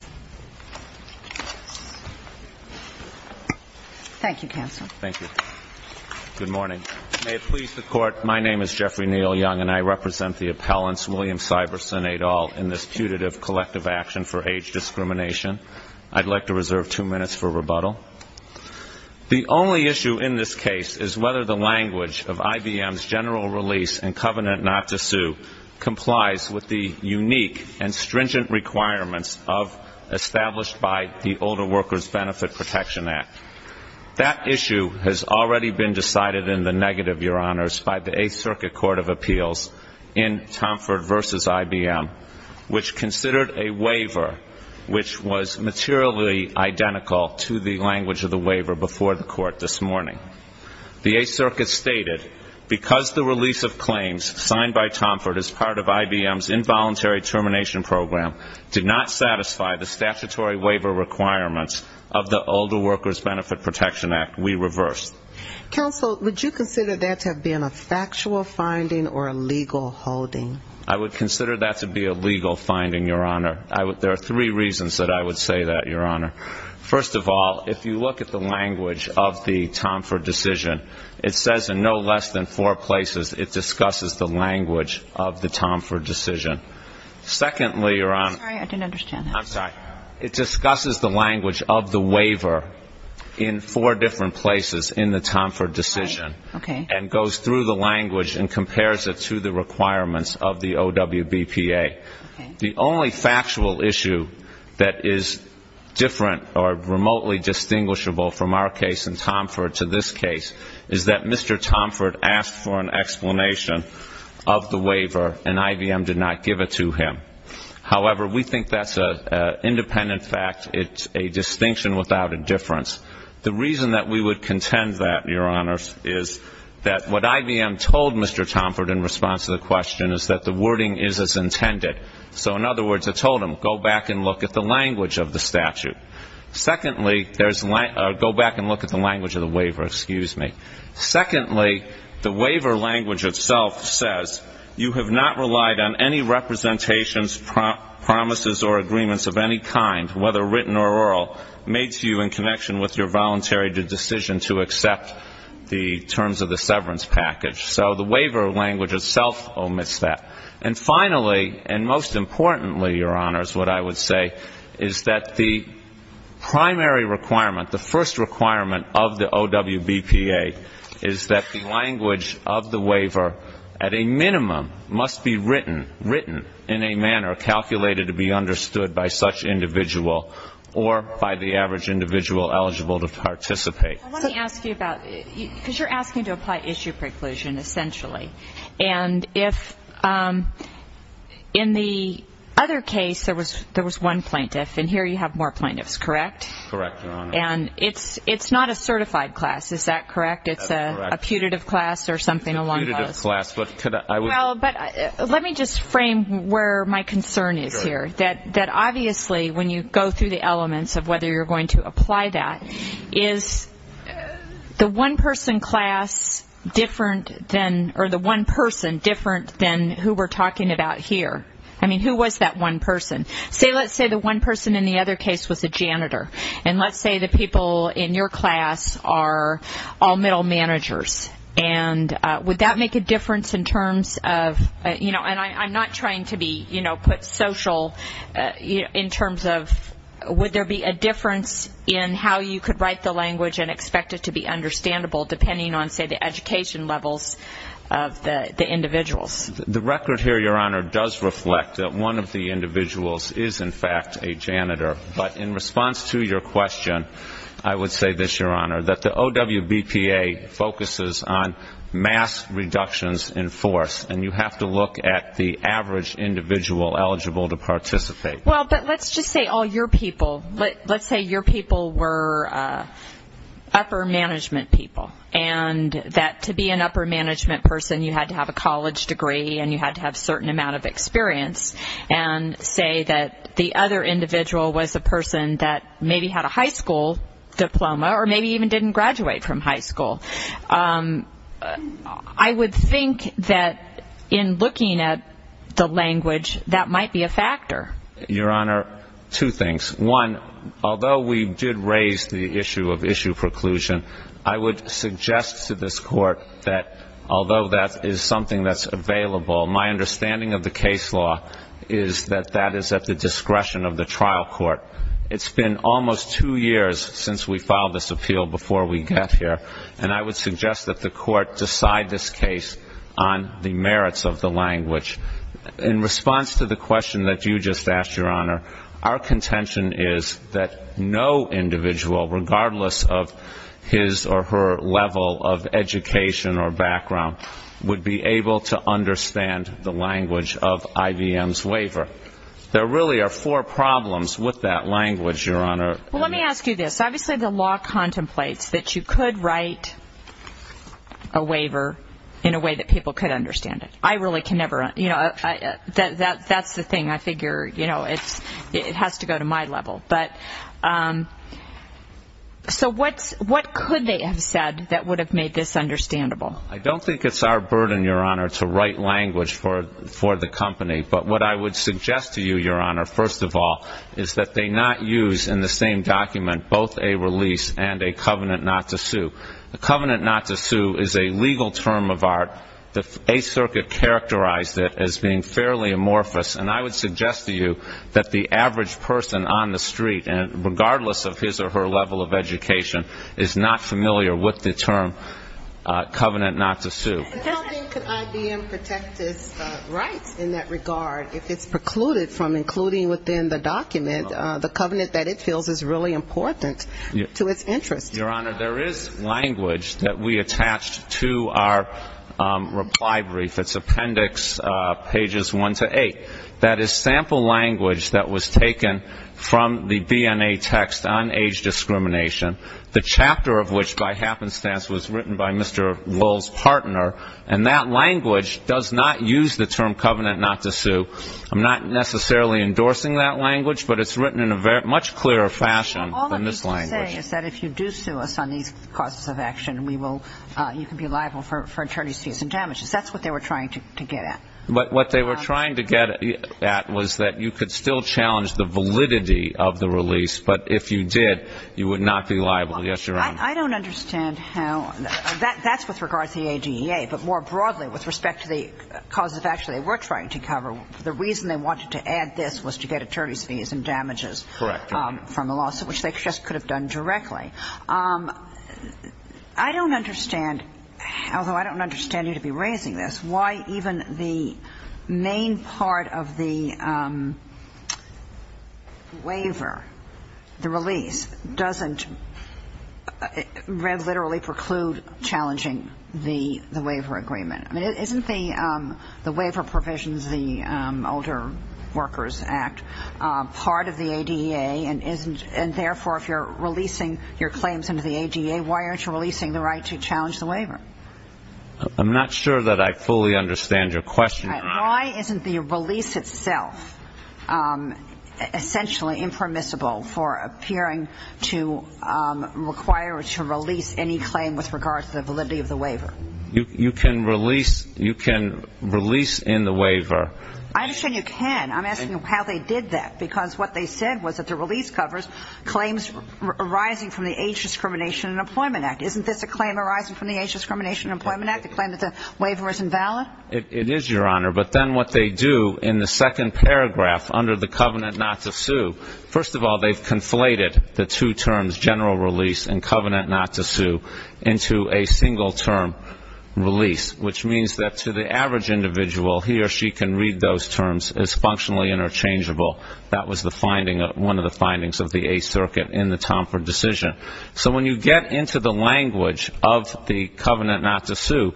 The only issue in this case is whether the language of IBM's general release and covenant not to sue complies with the unique and stringent requirements established by the Older Workers Benefit Protection Act. That issue has already been decided in the negative by the 8th Circuit Court of Appeals in Tomford v. IBM, which considered a waiver which was materially identical to the language of the waiver before the Court this morning. The 8th Circuit stated, because the release of claims signed by Tomford as part of IBM's involuntary termination program did not satisfy the statutory waiver requirements of the Older Workers Benefit Protection Act, we reversed. Counsel, would you consider that to have been a factual finding or a legal holding? I would consider that to be a legal finding, Your Honor. There are three reasons that I would say that, Your Honor. First of all, if you look at the language of the Tomford decision, it says in no less than four places it discusses the language of the Tomford decision. Secondly, Your Honor, it discusses the language of the waiver in four different places in the Tomford decision and goes through the language and compares it to the requirements of the OWBPA. The only factual issue that is different or remotely distinguishable from our case in Tomford to this case is that Mr. Tomford asked for an explanation of the waiver and IBM did not give it to him. However, we think that's an independent fact. It's a distinction without a difference. The reason that we would contend that, Your Honor, is that what IBM told Mr. Tomford in response to the question is that the wording is as intended. So in other words, it told him, go back and look at the language of the statute. Secondly, go back and look at the language of the waiver. Excuse me. Secondly, the waiver language itself says you have not relied on any representations, promises, or agreements of any kind, whether written or oral, made to you in connection with your voluntary decision to accept the terms of the severance package. So the waiver language itself omits that. And finally, and most importantly, Your Honors, what I would say is that the primary requirement, the first requirement of the OWBPA is that the language of the waiver, at a minimum, must be written in a manner calculated to be understood by such individual or by the average individual eligible to participate. I want to ask you about, because you're asking to apply issue preclusion, essentially. And if in the other case, there was one plaintiff, and here you have more plaintiffs, correct? Correct, Your Honor. And it's not a certified class, is that correct? That's correct. It's a putative class or something along those lines. It's a putative class, but I was... Well, but let me just frame where my concern is here. That obviously, when you go through the elements of whether you're going to apply that, is the one person class different than, or the one person different than who we're talking about here? I mean, who was that one person? Say, let's say the one person in the other case was a janitor. And let's say the people in your class are all middle managers. And would that make a difference in terms of, you know, and I'm not trying to be, you know, put social in terms of, would there be a difference in how you could write the language and expect it to be understandable depending on, say, the education levels of the individuals? The record here, Your Honor, does reflect that one of the individuals is in fact a janitor. But in response to your question, I would say this, Your Honor, that the OWBPA focuses on mass reductions in force. And you have to look at the average individual eligible to participate. Well, but let's just say all your people, let's say your people were upper management people. And that to be an upper management person, you had to have a college degree, and you had to have a certain amount of experience. And say that the other individual was a person that maybe had a high school diploma or maybe even didn't graduate from high school. I would think that in looking at the language, that might be a factor. Your Honor, two things. One, although we did raise the issue of issue preclusion, I would suggest to this court that although that is something that's available, my understanding of the case law is that that is at the discretion of the trial court. It's been almost two years since we filed this appeal before we got here. And I would suggest that the court decide this case on the merits of the language. In response to the question that you just asked, Your Honor, our contention is that no individual, regardless of his or her level of education or background, would be able to understand the language of IVM's waiver. There really are four problems with that language, Your Honor. Well, let me ask you this. Obviously, the law contemplates that you could write a waiver in a way that people could understand it. I really can never, you know, that's the thing. I figure, you know, it has to go to my level. But so what could they have said that would have made this understandable? I don't think it's our burden, Your Honor, to write language for the company. But what I would suggest to you, Your Honor, first of all, is that they not use in the same document both a release and a covenant not to sue. A covenant not to sue is a legal term of art. The Eighth Circuit characterized it as being fairly amorphous. And I would suggest to you that the average person on the street, regardless of his or her level of education, is not familiar with the term covenant not to sue. And how then could IVM protect its rights in that regard if it's precluded from including within the document the covenant that it feels is really important to its interest? Your Honor, there is language that we attached to our reply brief. It's Appendix Pages 1 to 8. That is sample language that was taken from the BNA text on age discrimination. The chapter of which, by happenstance, was written by Mr. Lowell's partner. And that language does not use the term covenant not to sue. I'm not necessarily endorsing that language, but it's written in a much clearer fashion than this language. All I'm saying is that if you do sue us on these causes of action, we will, you can be liable for attorney's fees and damages. That's what they were trying to get at. What they were trying to get at was that you could still challenge the validity of the release, but if you did, you would not be liable. Yes, Your Honor. I don't understand how, that's with regards to the ADEA, but more broadly, with respect to the causes of action they were trying to cover, the reason they wanted to add this was to get attorney's fees and damages from the lawsuit, which they just could have done directly. I don't understand, although I don't understand you to be raising this, why even the main part of the waiver, the release, doesn't literally preclude challenging the waiver agreement. I mean, isn't the waiver provisions, the Older Workers Act, part of the ADEA, and therefore, if you're releasing your claims into the ADEA, why aren't you releasing the right to challenge the waiver? I'm not sure that I fully understand your question, Your Honor. Why isn't the release itself essentially impermissible for appearing to require or to release any claim with regards to the validity of the waiver? You can release in the waiver. I understand you can. I'm asking how they did that, because what they said was that the release covers claims arising from the Age Discrimination and Employment Act. Isn't this a claim arising from the Age Discrimination and Employment Act, a claim that the waiver is invalid? It is, Your Honor, but then what they do in the second paragraph under the covenant not to sue, first of all, they've conflated the two terms, general release and covenant not to sue, into a single term release, which means that to the average individual, he or she can read those terms as functionally interchangeable. That was one of the findings of the Eighth Circuit in the Tomford decision. So when you get into the language of the covenant not to sue,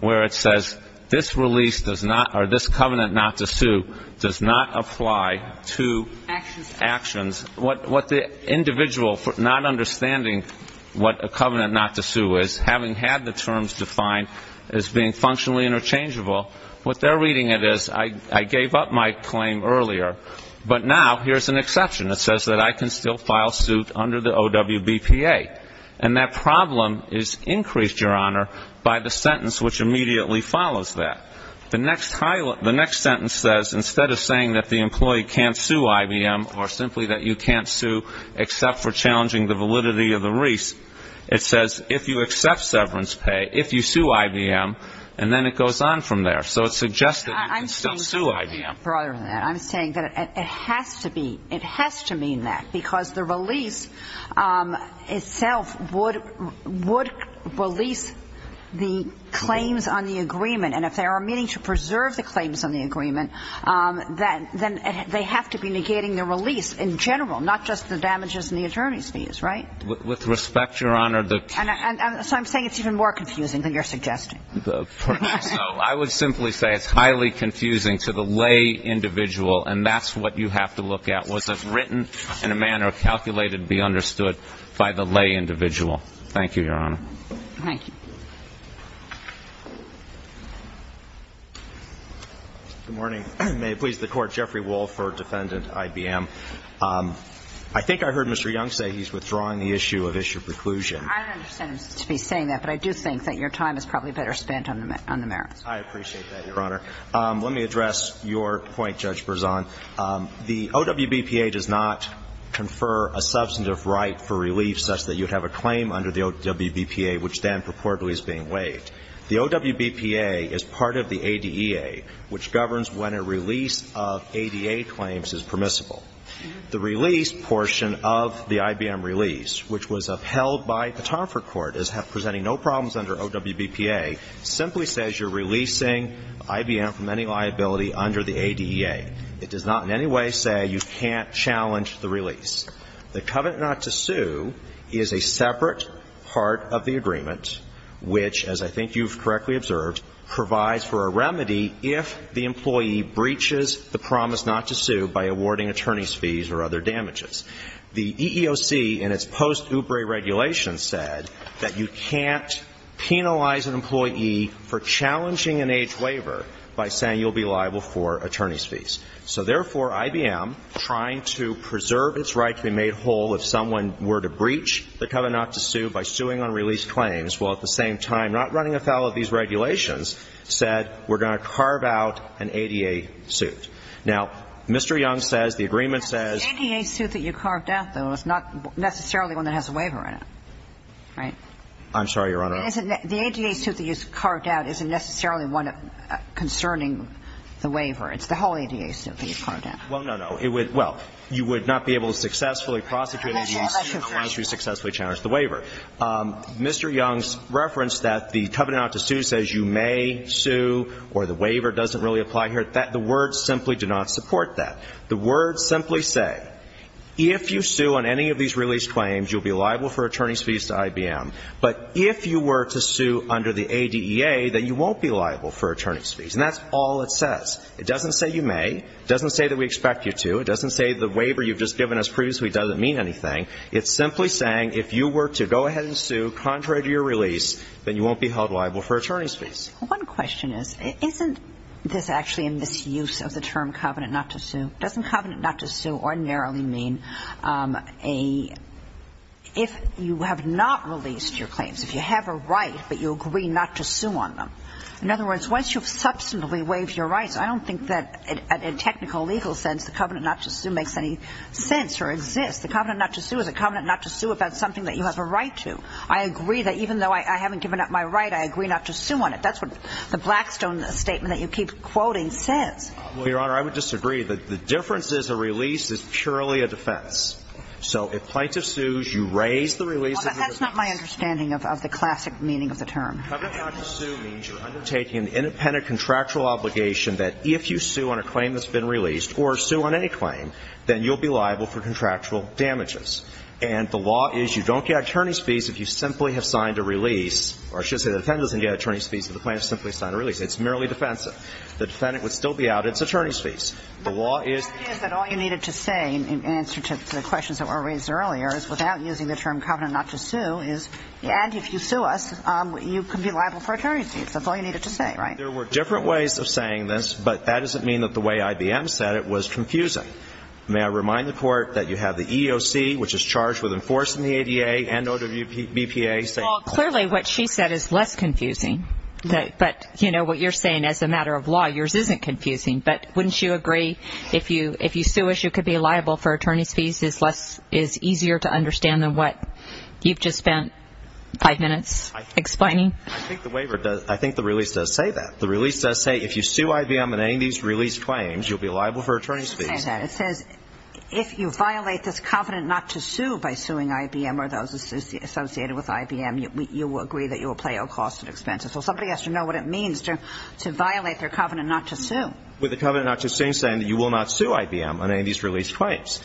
where it says this release does not, or this covenant not to sue, does not apply to actions, what the individual not understanding what a covenant not to sue is, having had the terms defined as being functionally interchangeable, what they're reading it as, I gave up my claim earlier, but now here's an exception. It says that I can still file suit under the OWBPA. And that problem is increased, Your Honor, by the sentence which immediately follows that. The next sentence says, instead of saying that the employee can't sue IBM, or simply that you can't sue except for challenging the validity of the lease, it says if you accept severance pay, if you sue IBM, and then it goes on from there. So it suggests that you can still sue IBM. I'm saying that it has to be, it has to mean that, because the release itself would release the claims on the agreement. And if they are meaning to preserve the claims on the agreement, then they have to be negating the release in general, not just the damages and the attorney's fees, right? With respect, Your Honor, the And so I'm saying it's even more confusing than you're suggesting. So I would simply say it's highly confusing to the lay individual, and that's what you have to look at. Was it written in a manner calculated to be understood by the lay individual? Thank you, Your Honor. Thank you. Good morning. May it please the Court. Jeffrey Wolf for defendant IBM. I think I heard Mr. Young say he's withdrawing the issue of issue preclusion. I don't understand him to be saying that, but I do think that your time is probably better spent on the merits. I appreciate that, Your Honor. Let me address your point, Judge Berzon. The OWBPA does not confer a substantive right for relief such that you'd have a claim under the OWBPA, which then purportedly is being waived. The OWBPA is part of the ADEA, which governs when a release of ADA claims is permissible. The release portion of the IBM release, which was upheld by the Tarford Court as presenting no problems under OWBPA, simply says you're releasing IBM from any liability under the ADEA. It does not in any way say you can't challenge the release. The covenant not to sue is a separate part of the agreement, which, as I think you've correctly observed, provides for a remedy if the employee breaches the promise not to sue by awarding attorney's fees or other damages. The EEOC, in its post-OOBRE regulation, said that you can't penalize an employee for challenging an age waiver by saying you'll be liable for attorney's fees. So therefore, IBM, trying to preserve its right to be made whole if someone were to breach the covenant to sue by suing on release claims, while at the same time not running afoul of these regulations, said we're going to carve out an ADEA suit. Now, Mr. Young says the agreement says The ADEA suit that you carved out, though, is not necessarily one that has a waiver in it, right? I'm sorry, Your Honor. The ADEA suit that you carved out isn't necessarily one concerning the waiver. It's the whole ADEA suit that you carved out. Well, no, no. It would – well, you would not be able to successfully prosecute an ADEA suit unless you successfully challenged the waiver. Mr. Young's reference that the covenant not to sue says you may sue or the waiver doesn't really apply here, the words simply do not support that. The words simply say, if you sue on any of these release claims, you'll be liable for attorney's fees to IBM. But if you were to sue under the ADEA, then you won't be liable for attorney's fees. And that's all it says. It doesn't say you may. It doesn't say that we expect you to. It doesn't say the waiver you've just given us previously doesn't mean anything. It's simply saying, if you were to go ahead and sue contrary to your release, then you won't be held liable for attorney's fees. One question is, isn't this actually in misuse of the term covenant not to sue? Doesn't covenant not to sue ordinarily mean a – if you have not released your claims, if you have a right, but you agree not to sue on them? In other words, once you've substantively waived your rights, I don't think that in a technical legal sense, the covenant not to sue makes any sense or exists. The covenant not to sue is a covenant not to sue about something that you have a right to. I agree that even though I haven't given up my right, I agree not to sue on it. That's what the Blackstone statement that you keep quoting says. Well, Your Honor, I would disagree. The difference is a release is purely a defense. So if plaintiff sues, you raise the release of the release. That's not my understanding of the classic meaning of the term. Covenant not to sue means you're undertaking an independent contractual obligation that if you sue on a claim that's been released or sue on any claim, then you'll be liable for contractual damages. And the law is you don't get attorney's fees if you simply have signed a release. Or I should say the defendant doesn't get attorney's fees if the plaintiff simply signed a release. It's merely defensive. The defendant would still be out. It's attorney's fees. The law is – The idea is that all you needed to say in answer to the questions that were raised earlier is without using the term covenant not to sue is – And if you sue us, you can be liable for attorney's fees. That's all you needed to say, right? There were different ways of saying this, but that doesn't mean that the way IBM said it was confusing. May I remind the Court that you have the EEOC, which is charged with enforcing the ADA and OWBPA, say – Well, clearly what she said is less confusing. But, you know, what you're saying as a matter of law, yours isn't confusing. But wouldn't you agree if you sue us, you could be liable for attorney's fees? Is easier to understand than what you've just spent five minutes explaining? I think the waiver does – I think the release does say that. The release does say if you sue IBM on any of these release claims, you'll be liable for attorney's fees. It says if you violate this covenant not to sue by suing IBM or those associated with IBM, you will agree that you will pay all costs and expenses. Well, somebody has to know what it means to violate their covenant not to sue. With the covenant not to sue saying that you will not sue IBM on any of these release claims.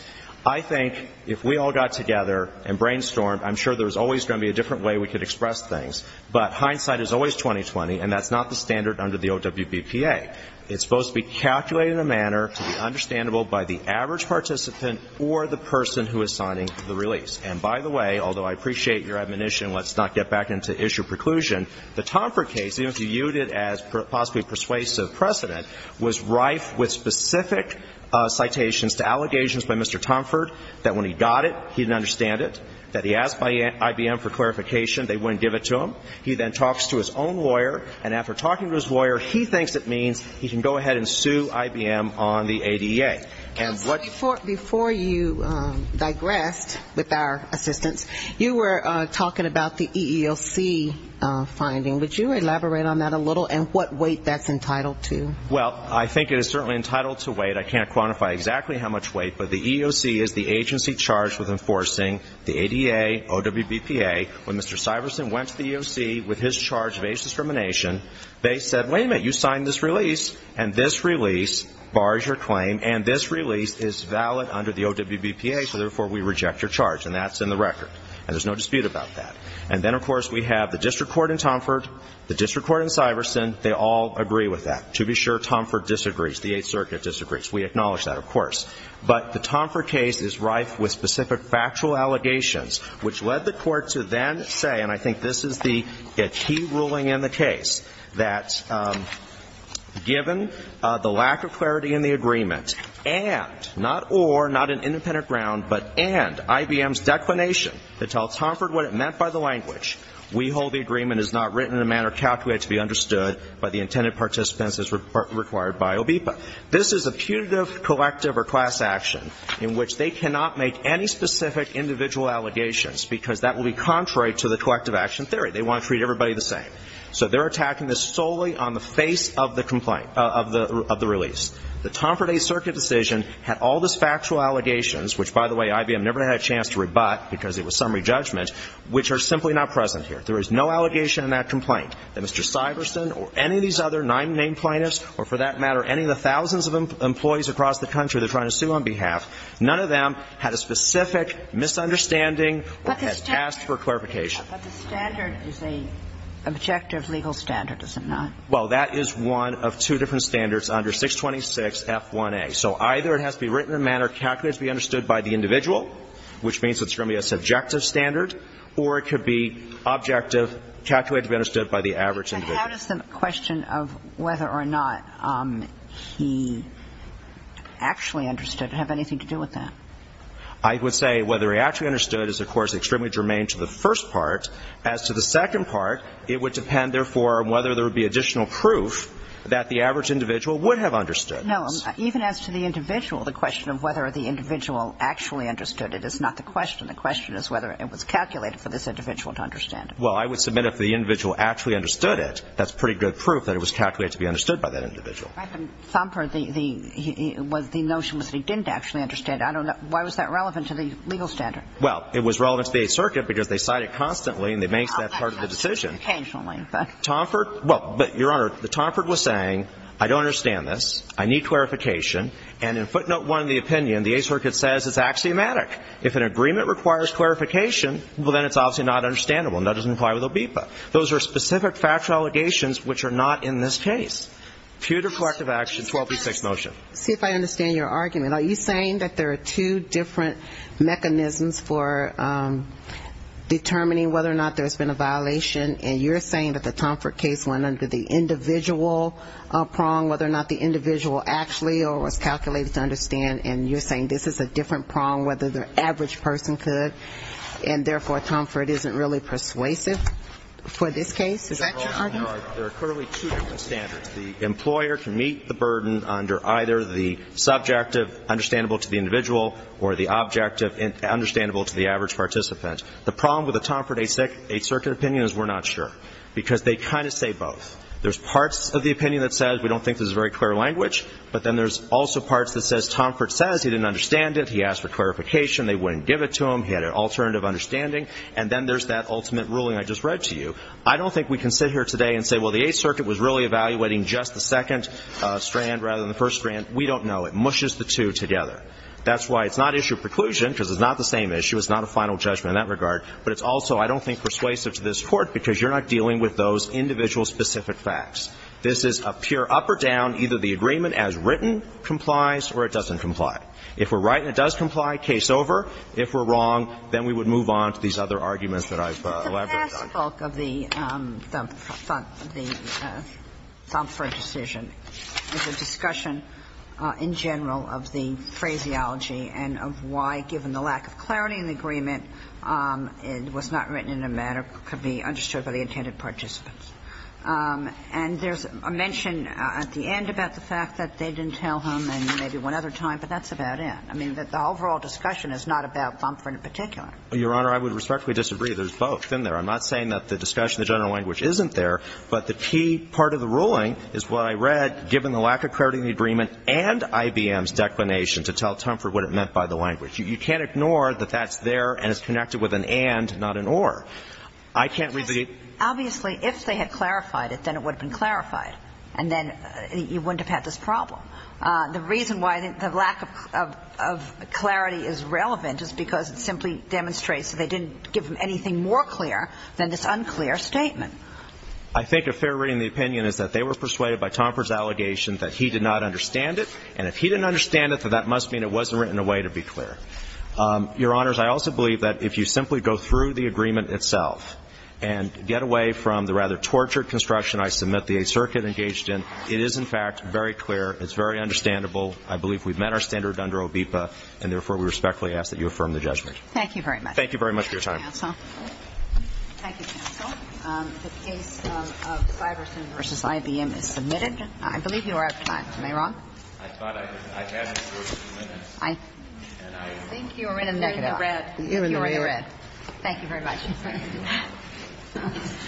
I think if we all got together and brainstormed, I'm sure there's always going to be a different way we could express things. But hindsight is always 20-20, and that's not the standard under the OWBPA. It's supposed to be calculated in a manner to be understandable by the average participant or the person who is signing the release. And by the way, although I appreciate your admonition, let's not get back into issue preclusion, the Tomford case, even if you viewed it as possibly persuasive precedent, was rife with specific citations to allegations by Mr. Tomford that when he got it, he didn't understand it, that he asked IBM for clarification, they wouldn't give it to him. He then talks to his own lawyer, and after talking to his lawyer, he thinks it means he can go ahead and sue IBM on the ADA. And what... Before you digressed with our assistance, you were talking about the EEOC finding. Would you elaborate on that a little and what weight that's entitled to? Well, I think it is certainly entitled to weight. I can't quantify exactly how much weight, but the EEOC is the agency charged with enforcing the ADA, OWBPA. When Mr. Syverson went to the EEOC with his charge of age discrimination, they said, wait a minute, you signed this release, and this release bars your claim, and this release is valid under the OWBPA, so therefore we reject your charge. And that's in the record, and there's no dispute about that. And then, of course, we have the district court in Tomford, the district court in Syverson. They all agree with that. To be sure, Tomford disagrees. The Eighth Circuit disagrees. We acknowledge that, of course. But the Tomford case is rife with specific factual allegations, which led the court to then say, and I think this is the key ruling in the case, that given the lack of clarity in the agreement and, not or, not an independent ground, but and IBM's declination to tell Tomford what it meant by the language, we hold the agreement is not written in a manner calculated to be understood by the intended participants as required by OWBPA. This is a putative collective or class action in which they cannot make any specific individual allegations because that will be contrary to the collective action theory. They want to treat everybody the same. So they're attacking this solely on the face of the complaint, of the release. The Tomford Eighth Circuit decision had all this factual allegations, which, by the way, IBM never had a chance to rebut because it was summary judgment, which are simply not present here. There is no allegation in that complaint that Mr. Syverson or any of these other nine named plaintiffs or, for that matter, any of the thousands of employees across the country they're trying to sue on behalf, none of them had a specific misunderstanding or had asked for clarification. But the standard is an objective legal standard, is it not? Well, that is one of two different standards under 626F1A. So either it has to be written in a manner calculated to be understood by the individual, which means it's going to be a subjective standard, or it could be objective, calculated to be understood by the average individual. But how does the question of whether or not he actually understood have anything to do with that? I would say whether he actually understood is, of course, extremely germane to the first part. As to the second part, it would depend, therefore, on whether there would be additional proof that the average individual would have understood. No. Even as to the individual, the question of whether the individual actually understood it is not the question. The question is whether it was calculated for this individual to understand it. Well, I would submit if the individual actually understood it, that's pretty good proof that it was calculated to be understood by that individual. I think Thompert, the notion was that he didn't actually understand it. I don't know. Why was that relevant to the legal standard? Well, it was relevant to the Eighth Circuit because they cite it constantly, and they make that part of the decision. Occasionally. Thompert? Well, but, Your Honor, Thompert was saying, I don't understand this. I need clarification. And in footnote one of the opinion, the Eighth Circuit says it's axiomatic. If an agreement requires clarification, well, then it's obviously not understandable. And that doesn't apply with OBEPA. Those are specific factual allegations which are not in this case. Pew to collective action, 1236 motion. See if I understand your argument. Are you saying that there are two different mechanisms for determining whether or not there's been a violation? And you're saying that the Thompert case went under the individual prong, whether or not the individual actually or was calculated to understand. And you're saying this is a different prong whether the average person could. And therefore, Thompert isn't really persuasive for this case. Is that your argument? There are clearly two different standards. The employer can meet the burden under either the subjective, understandable to the individual, or the objective, understandable to the average participant. The problem with the Thompert Eighth Circuit opinion is we're not sure. Because they kind of say both. There's parts of the opinion that says, we don't think this is very clear language. But then there's also parts that says, Thompert says he didn't understand it. He asked for clarification. They wouldn't give it to him. He had an alternative understanding. And then there's that ultimate ruling I just read to you. I don't think we can sit here today and say, well, the Eighth Circuit was really evaluating just the second strand rather than the first strand. We don't know. It mushes the two together. That's why it's not issue of preclusion, because it's not the same issue. It's not a final judgment in that regard. But it's also, I don't think, persuasive to this court, because you're not dealing with those individual specific facts. This is a pure up or down, either the agreement as written complies or it doesn't comply. If we're right and it does comply, case over. If we're wrong, then we would move on to these other arguments that I've elaborated on. The past bulk of the Thompert decision is a discussion, in general, of the phraseology and of why, given the lack of clarity in the agreement, it was not written in a manner that could be understood by the intended participants. And there's a mention at the end about the fact that they didn't tell him, and maybe one other time, but that's about it. I mean, the overall discussion is not about Thompert in particular. Your Honor, I would respectfully disagree. There's both in there. I'm not saying that the discussion, the general language, isn't there, but the key part of the ruling is what I read, given the lack of clarity in the agreement and IBM's declination to tell Thompert what it meant by the language. You can't ignore that that's there and it's connected with an and, not an or. I can't read the ---- Obviously, if they had clarified it, then it would have been clarified, and then you wouldn't have had this problem. The reason why the lack of clarity is relevant is because it simply demonstrates that they didn't give him anything more clear than this unclear statement. I think a fair reading of the opinion is that they were persuaded by Thompert's allegation that he did not understand it, and if he didn't understand it, then that must mean it wasn't written in a way to be clear. Your Honors, I also believe that if you simply go through the agreement itself and get away from the rather tortured construction I submit the Eighth Circuit engaged in, it is, in fact, very clear, it's very understandable. I believe we've met our standard under OBEPA, and therefore, we respectfully ask that you affirm the judgment. Thank you very much. Thank you very much for your time. Thank you, counsel. The case of Syverson v. IBM is submitted. I believe you are out of time. Am I wrong? I thought I had you for a few minutes. I think you are in a negative. You are in the red. Thank you very much.